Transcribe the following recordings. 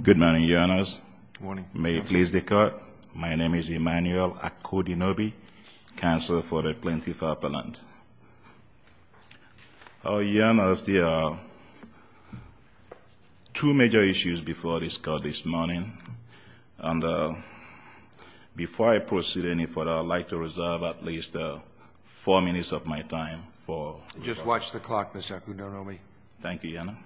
Good morning, Your Honors. May it please the Court, my name is Emmanuel Akudinobi, Counselor for the Plaintiff's Appellant. Your Honors, there are two major issues before this Court this morning. Before I proceed any further, I would like to reserve at least four minutes of my time. Just watch the clock, Mr. Akudinobi. Thank you, Your Honor.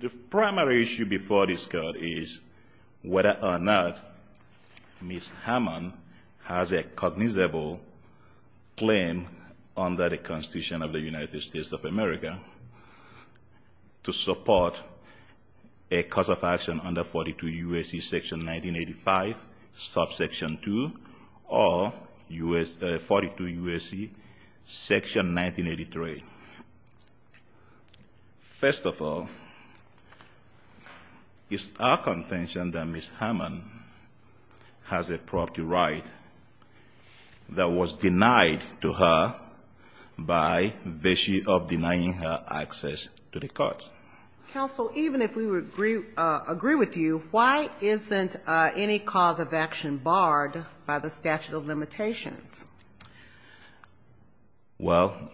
The primary issue before this Court is whether or not Ms. Harmon has a cognizable claim under the Constitution of the United States of America to support a cause of action under 42 U.S.C. section 1985, subsection 2, or 42 U.S.C. section 1983. First of all, it's our contention that Ms. Harmon has a property right that was denied to her by virtue of denying her access to the court. Counsel, even if we agree with you, why isn't any cause of action barred by the statute of limitations? Well,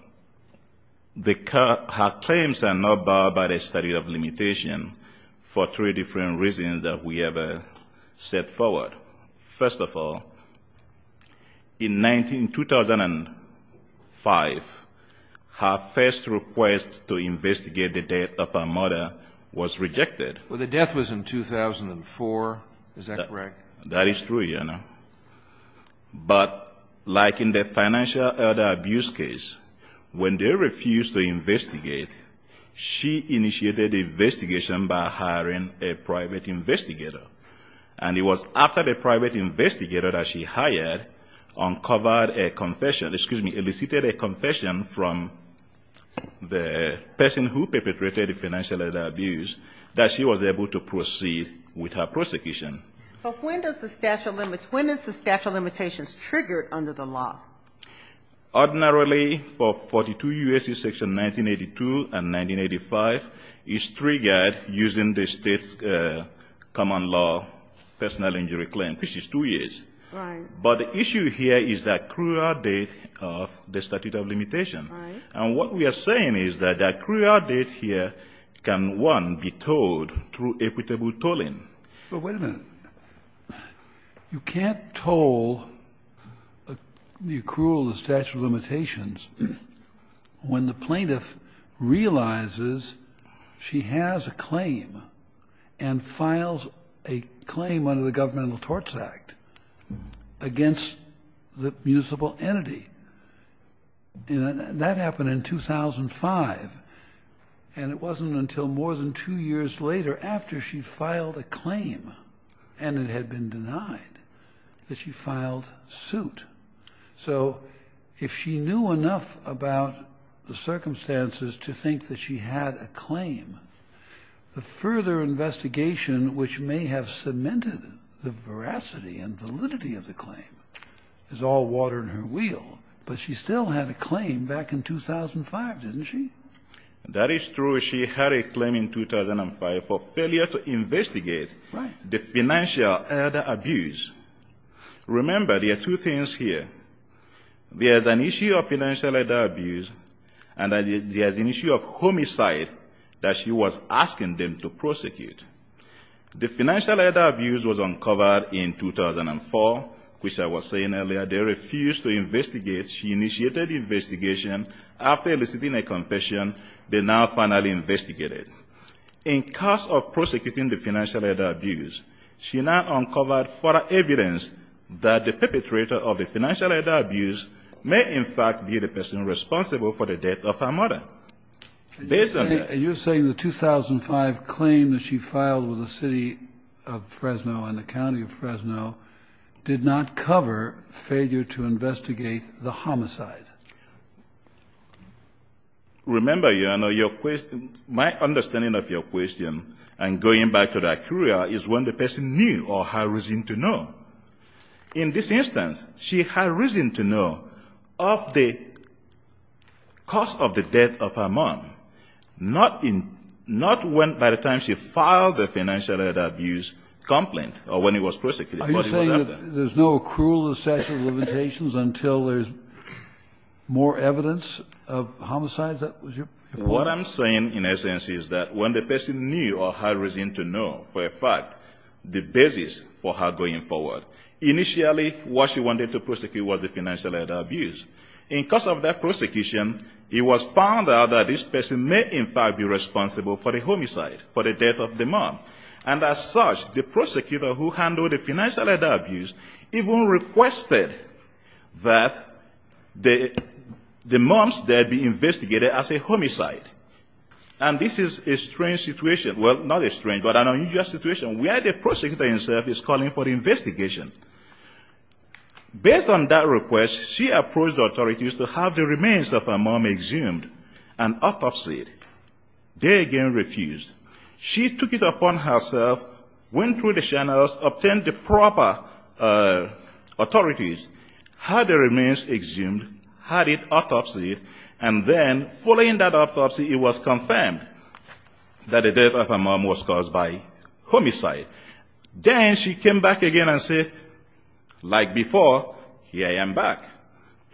her claims are not barred by the statute of limitations for three different reasons that we have set forward. First of all, in 2005, her first request to investigate the death of her mother was rejected. Well, the death was in 2004. Is that correct? That is true, Your Honor. But like in the financial abuse case, when they refused to investigate, she initiated the investigation by hiring a private investigator. And it was after the private investigator that she hired uncovered a confession, excuse me, elicited a confession from the person who perpetrated the financial abuse that she was able to proceed with her prosecution. But when does the statute of limits, when is the statute of limitations triggered under the law? Ordinarily, for 42 U.S.C. section 1982 and 1985, it's triggered using the state's common law personal injury claim, which is 2 years. Right. But the issue here is the accrual date of the statute of limitations. Right. And what we are saying is that the accrual date here can, one, be told through equitable tolling. But wait a minute. You can't toll the accrual of the statute of limitations when the plaintiff realizes she has a claim and files a claim under the Governmental Torts Act against the municipal entity. That happened in 2005. And it wasn't until more than two years later, after she filed a claim and it had been denied, that she filed suit. So if she knew enough about the circumstances to think that she had a claim, the further investigation which may have cemented the veracity and validity of the claim is all water in her wheel. But she still had a claim back in 2005, didn't she? That is true. She had a claim in 2005 for failure to investigate the financial abuse. Right. There is an issue of financial abuse and there is an issue of homicide that she was asking them to prosecute. The financial abuse was uncovered in 2004, which I was saying earlier. They refused to investigate. She initiated the investigation. After eliciting a confession, they now finally investigated. In cause of prosecuting the financial abuse, she now uncovered further evidence that the perpetrator of the financial abuse may in fact be the person responsible for the death of her mother. And you're saying the 2005 claim that she filed with the City of Fresno and the County of Fresno did not cover failure to investigate the homicide? Remember, Your Honor, your question my understanding of your question and going back to the courier is when the person knew or had reason to know. In this instance, she had reason to know of the cause of the death of her mom, not in not when by the time she filed the financial abuse complaint or when it was prosecuted. Are you saying that there's no cruel assessment of limitations until there's more evidence of homicides? What I'm saying in essence is that when the person knew or had reason to know for a fact the basis for her going forward, initially what she wanted to prosecute was the financial abuse. In cause of that prosecution, it was found out that this person may in fact be responsible for the homicide, for the death of the mom. And as such, the prosecutor who handled the financial abuse even requested that the mom's death be investigated as a homicide. And this is a strange situation. Well, not a strange, but an unusual situation where the prosecutor himself is calling for the investigation. Based on that request, she approached authorities to have the remains of her mom exhumed and autopsied. They again refused. She took it upon herself, went through the channels, obtained the proper authorities, had the remains exhumed, had it autopsied, and then following that autopsy, it was confirmed that the death of her mom was caused by homicide. Then she came back again and said, like before, here I am back.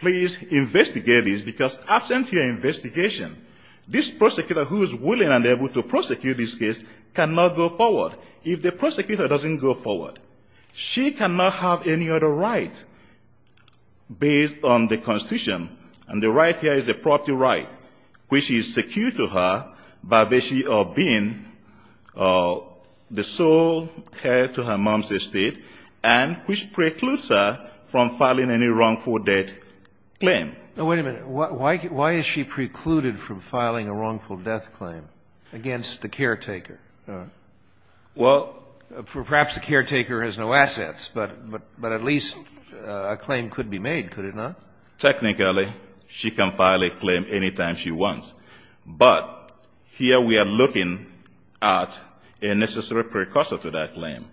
Please investigate this, because absent your investigation, this prosecutor who is willing and able to prosecute this case cannot go forward. If the prosecutor doesn't go forward, she cannot have any other right based on the Constitution. And the right here is the property right, which is secured to her by basically being the sole heir to her mom's estate and which precludes her from filing any wrongful death claim. Wait a minute. Why is she precluded from filing a wrongful death claim against the caretaker? Well, perhaps the caretaker has no assets, but at least a claim could be made, could it not? Technically, she can file a claim any time she wants. But here we are looking at a necessary precursor to that claim.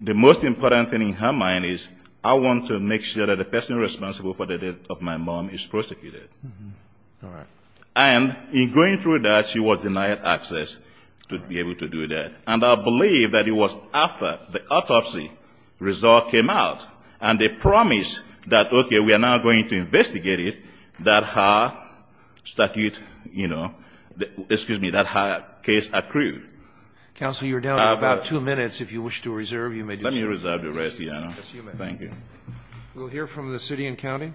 The most important thing in her mind is I want to make sure that the person responsible for the death of my mom is prosecuted. All right. And in going through that, she was denied access to be able to do that. And I believe that it was after the autopsy result came out and they promised that, okay, we are now going to investigate it, that her statute, you know, excuse me, that her case accrued. Counsel, you're down to about two minutes. If you wish to reserve, you may do so. Let me reserve the rest, Your Honor. Thank you. We'll hear from the city and county.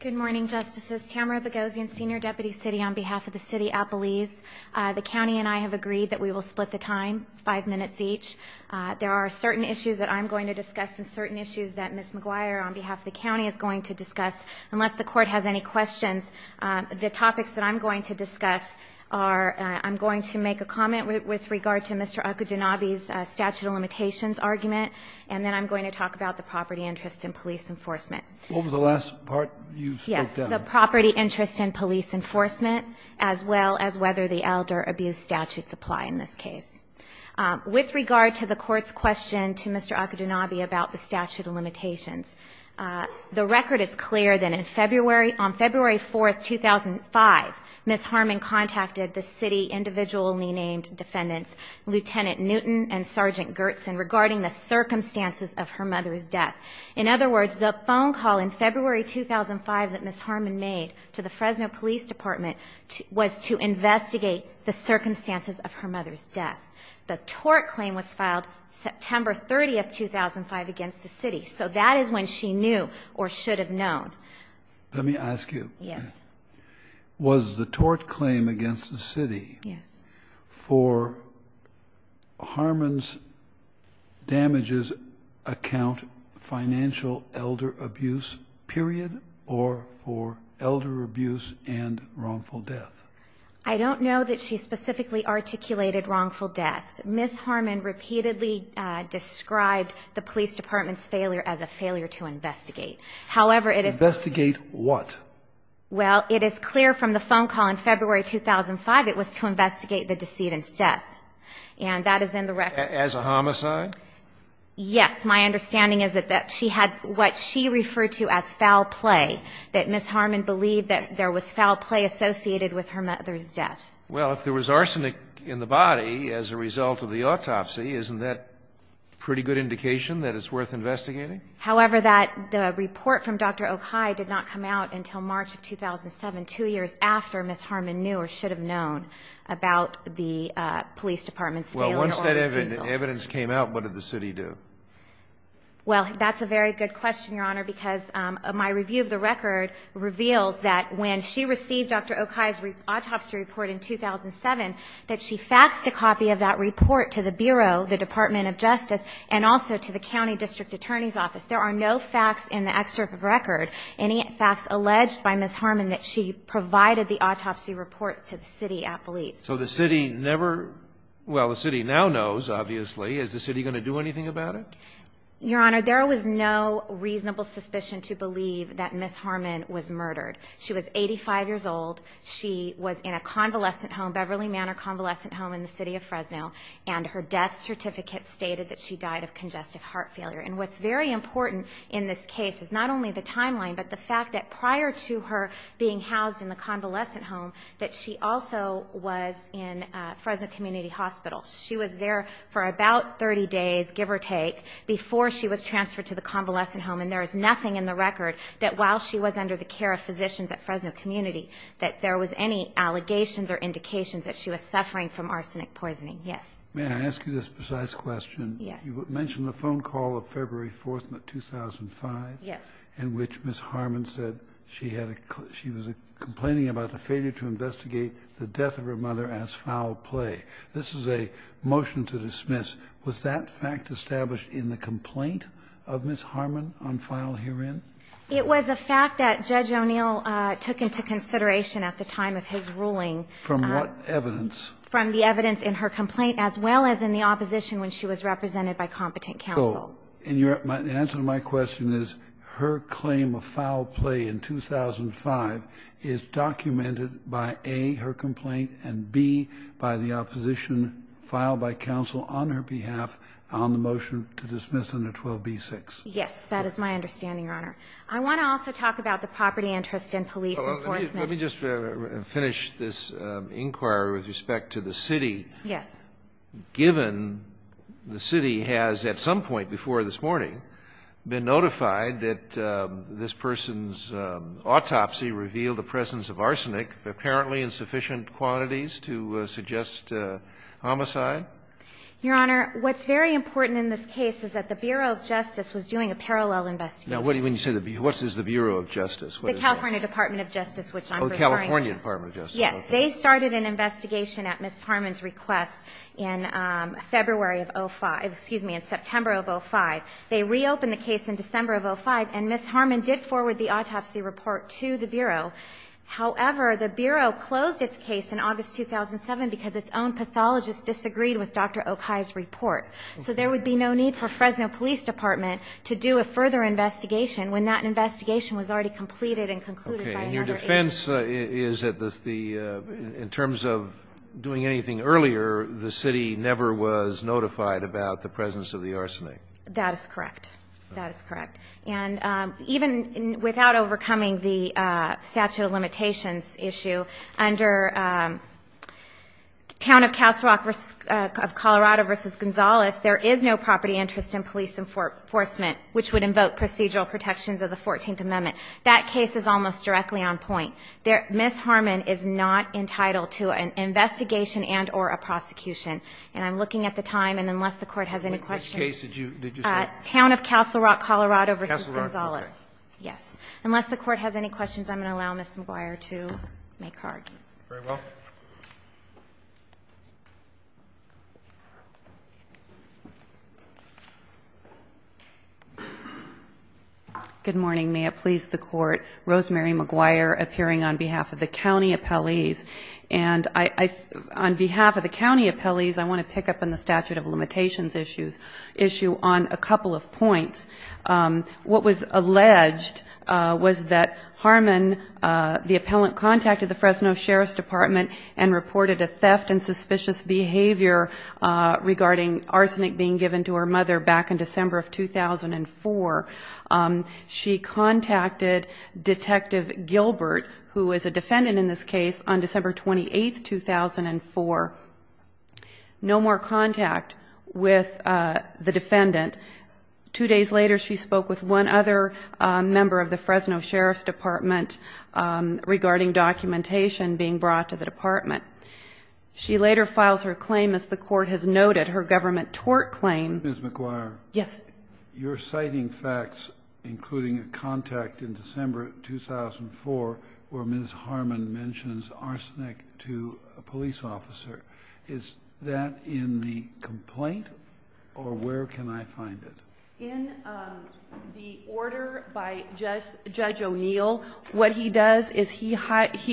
Good morning, Justices. Tamara Boghossian, Senior Deputy City on behalf of the City of Appalachia. The county and I have agreed that we will split the time five minutes each. There are certain issues that I'm going to discuss and certain issues that Ms. McGuire on behalf of the county is going to discuss. Unless the court has any questions, the topics that I'm going to discuss are I'm going to make a comment with regard to Mr. Okudinabi's statute of limitations argument, and then I'm going to talk about the property interest in police enforcement. What was the last part you spoke to? Yes, the property interest in police enforcement, as well as whether the elder abuse statutes apply in this case. With regard to the court's question to Mr. Okudinabi about the statute of limitations, the record is clear that on February 4, 2005, Ms. Harmon contacted the city individually named defendants, Lieutenant Newton and Sergeant Gertson, regarding the circumstances of her mother's death. In other words, the phone call in February 2005 that Ms. Harmon made to the Fresno Police Department was to investigate the tort claim was filed September 30, 2005, against the city. So that is when she knew or should have known. Let me ask you. Yes. Was the tort claim against the city for Harmon's damages Account Financial Elder Abuse period or for elder abuse and wrongful death? I don't know that she specifically articulated wrongful death. Ms. Harmon repeatedly described the police department's failure as a failure to investigate. Investigate what? Well, it is clear from the phone call in February 2005 it was to investigate the decedent's death. And that is in the record. As a homicide? Yes. My understanding is that she had what she referred to as foul play, that Ms. Harmon believed that there was foul play associated with her mother's death. Well, if there was arsenic in the body as a result of the autopsy, isn't that a pretty good indication that it's worth investigating? However, the report from Dr. Okai did not come out until March of 2007, two years after Ms. Harmon knew or should have known about the police department's failure. Well, once that evidence came out, what did the city do? Well, that's a very good question, Your Honor, because my review of the record reveals that when she received Dr. Okai's autopsy report in 2007, that she faxed a copy of that report to the Bureau, the Department of Justice, and also to the county district attorney's office. There are no facts in the excerpt of record, any facts alleged by Ms. Harmon that she provided the autopsy reports to the city at police. So the city never – well, the city now knows, obviously. Is the city going to do anything about it? Your Honor, there was no reasonable suspicion to believe that Ms. Harmon was murdered. She was 85 years old. She was in a convalescent home, Beverly Manor convalescent home in the city of Fresno, and her death certificate stated that she died of congestive heart failure. And what's very important in this case is not only the timeline, but the fact that prior to her being housed in the convalescent home that she also was in Fresno Community Hospital. She was there for about 30 days, give or take, before she was transferred to the convalescent home, and there is nothing in the record that while she was under the care of physicians at Fresno Community that there was any allegations or indications that she was suffering from arsenic poisoning. Yes. May I ask you this precise question? Yes. You mentioned the phone call of February 4th, 2005. Yes. In which Ms. Harmon said she was complaining about the failure to investigate the death of her mother as foul play. This is a motion to dismiss. Was that fact established in the complaint of Ms. Harmon on file herein? It was a fact that Judge O'Neill took into consideration at the time of his ruling. From what evidence? From the evidence in her complaint as well as in the opposition when she was represented by competent counsel. And the answer to my question is her claim of foul play in 2005 is documented by A, her complaint, and B, by the opposition filed by counsel on her behalf on the motion to dismiss under 12b-6. That is my understanding, Your Honor. I want to also talk about the property interest and police enforcement. Let me just finish this inquiry with respect to the city. Yes. Given the city has, at some point before this morning, been notified that this person's autopsy revealed the presence of arsenic, apparently in sufficient quantities to suggest homicide? Your Honor, what's very important in this case is that the Bureau of Justice was doing a parallel investigation. What is the Bureau of Justice? The California Department of Justice, which I'm referring to. Oh, the California Department of Justice. Yes. They started an investigation at Ms. Harmon's request in February of 2005, excuse me, in September of 2005. They reopened the case in December of 2005, and Ms. Harmon did forward the autopsy report to the Bureau. However, the Bureau closed its case in August 2007 because its own pathologist disagreed with Dr. Okai's report. So there would be no need for Fresno Police Department to do a further investigation when that investigation was already completed and concluded by another agency. The defense is that the the, in terms of doing anything earlier, the city never was notified about the presence of the arsenic. That is correct. That is correct. And even without overcoming the statute of limitations issue, under Town of Castle Rock of Colorado v. Gonzales, there is no property interest in police enforcement, which would invoke procedural protections of the Fourteenth Amendment. That case is almost directly on point. Ms. Harmon is not entitled to an investigation and or a prosecution. And I'm looking at the time, and unless the Court has any questions. Which case did you say? Town of Castle Rock, Colorado v. Gonzales. Castle Rock, Colorado. Yes. Unless the Court has any questions, I'm going to allow Ms. McGuire to make her argument. Very well. Good morning. May it please the Court. Rosemary McGuire appearing on behalf of the county appellees. And I, on behalf of the county appellees, I want to pick up on the statute of limitations issue on a couple of points. What was alleged was that Harmon, the appellant contacted the Fresno Sheriff's Department and reported a theft and suspicious behavior regarding arsenic being given to her mother back in December of 2004. She contacted Detective Gilbert, who is a defendant in this case, on December 28, 2004. No more contact with the defendant. Two days later, she spoke with one other member of the Fresno Sheriff's Department regarding documentation being brought to the department. She later files her claim, as the Court has noted, her government tort claim. Ms. McGuire. Yes. You're citing facts, including a contact in December 2004 where Ms. Harmon mentions arsenic to a police officer. Is that in the complaint, or where can I find it? In the order by Judge O'Neill, what he does is he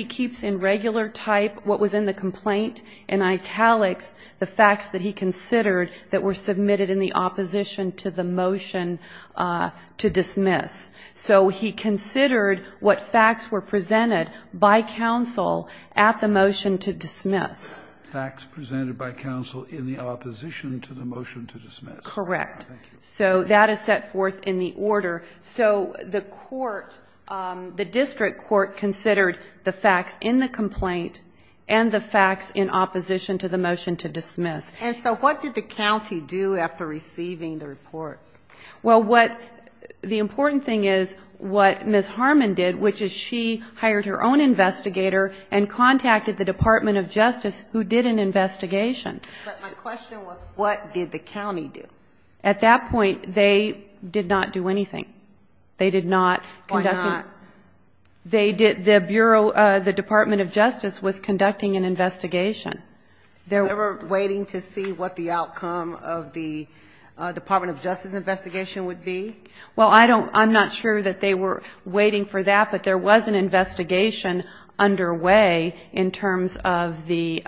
keeps in regular type what was in the complaint, in italics the facts that he considered that were submitted in the opposition to the motion to dismiss. So he considered what facts were presented by counsel at the motion to dismiss. Facts presented by counsel in the opposition to the motion to dismiss. Correct. So that is set forth in the order. So the court, the district court, considered the facts in the complaint and the facts in opposition to the motion to dismiss. And so what did the county do after receiving the reports? Well, the important thing is what Ms. Harmon did, which is she hired her own investigator and contacted the Department of Justice, who did an investigation. But my question was, what did the county do? At that point, they did not do anything. They did not conduct anything. Why not? They did, the Bureau, the Department of Justice was conducting an investigation. They were waiting to see what the outcome of the Department of Justice investigation would be? Well, I don't, I'm not sure that they were waiting for that, but there was an investigation underway in terms of the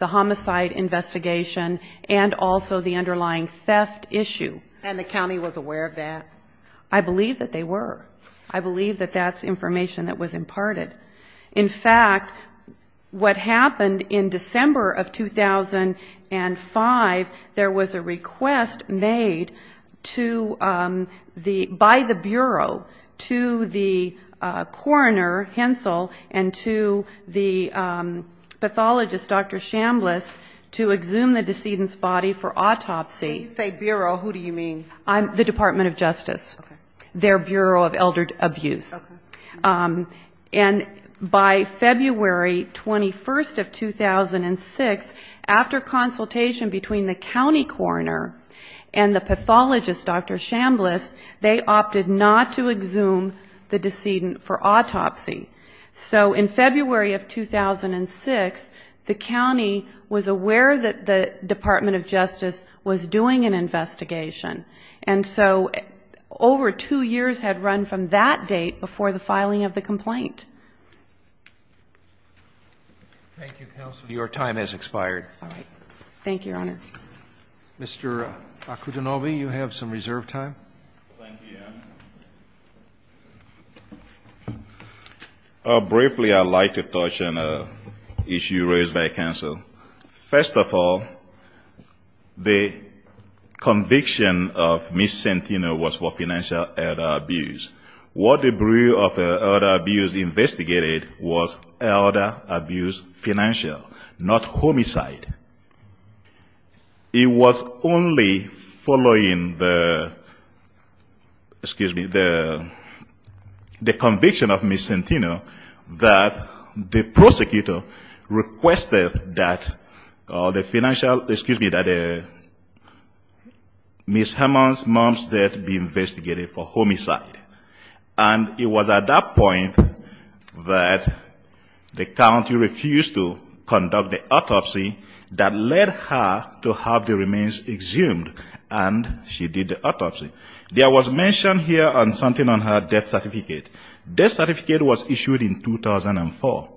homicide investigation and also the underlying theft issue. And the county was aware of that? I believe that they were. I believe that that's information that was imparted. In fact, what happened in December of 2005, there was a request made to the, by the Bureau, to the coroner, Hensel, and to the pathologist, Dr. Chambliss, to exhume the decedent's body for autopsy. When you say Bureau, who do you mean? The Department of Justice. Their Bureau of Elder Abuse. Okay. And by February 21st of 2006, after consultation between the county coroner and the pathologist, Dr. Chambliss, they opted not to exhume the decedent for autopsy. So in February of 2006, the county was aware that the Department of Justice was doing an investigation. And so over two years had run from that date before the filing of the complaint. Thank you, counsel. Your time has expired. All right. Thank you, Your Honor. Mr. Akutunogi, you have some reserve time. Thank you, Ann. Briefly, I'd like to touch on an issue raised by counsel. First of all, the conviction of Ms. Santino was for financial elder abuse. What the Bureau of Elder Abuse investigated was elder abuse financial, not homicide. It was only following the, excuse me, the conviction of Ms. Santino that the prosecutor requested that the financial, excuse me, that Ms. Herman's mom's death be investigated for homicide. And it was at that point that the county refused to conduct the autopsy that led her to have the remains exhumed. And she did the autopsy. There was mention here on something on her death certificate. Death certificate was issued in 2004.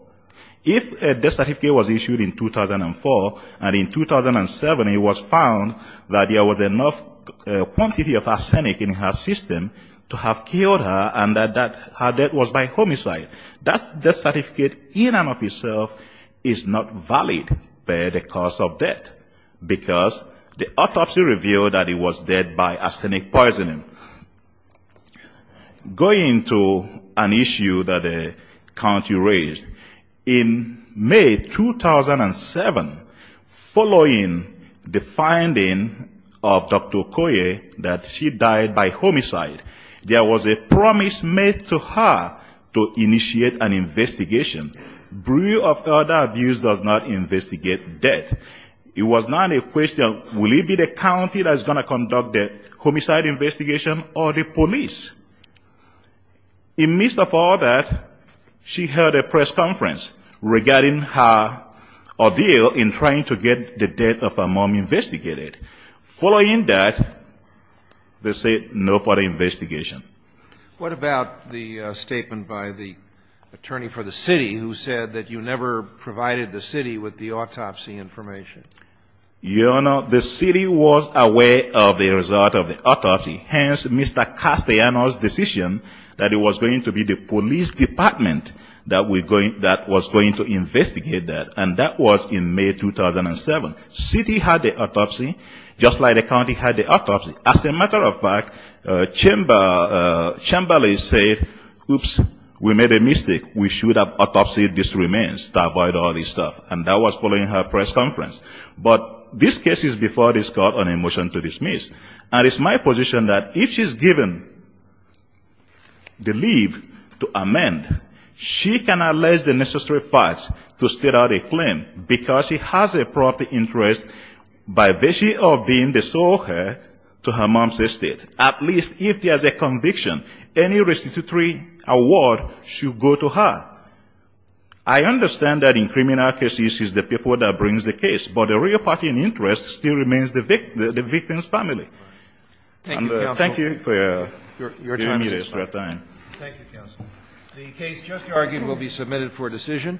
If a death certificate was issued in 2004 and in 2007 it was found that there was enough quantity of arsenic in her system to have killed her and that her death was by homicide, that death certificate in and of itself is not valid by the cause of death, because the autopsy revealed that it was dead by arsenic poisoning. Going to an issue that the county raised, in May 2007, following the finding of Dr. Okoye that she died by homicide, there was a promise made to her to initiate an investigation. Bureau of Elder Abuse does not investigate death. It was not a question of will it be the county that's going to conduct the homicide investigation or the police. In the midst of all that, she held a press conference regarding her ordeal in trying to get the death of her mom investigated. Following that, they said no further investigation. What about the statement by the attorney for the city who said that you never provided the city with the autopsy information? Your Honor, the city was aware of the result of the autopsy. Hence, Mr. Castellanos' decision that it was going to be the police department that was going to investigate that, and that was in May 2007. City had the autopsy, just like the county had the autopsy. As a matter of fact, Chamberlain said, oops, we made a mistake. We should have autopsied these remains to avoid all this stuff, and that was following her press conference. But this case is before this Court on a motion to dismiss, and it's my position that if she's given the leave to amend, she can allege the necessary facts to state out a claim because she has a proper interest by virtue of being the sole heir to her mom's estate. At least if there's a conviction, any restitutory award should go to her. I understand that in criminal cases, it's the people that bring the case, but the real party in interest still remains the victim's family. Thank you for your time. The case just argued will be submitted for decision.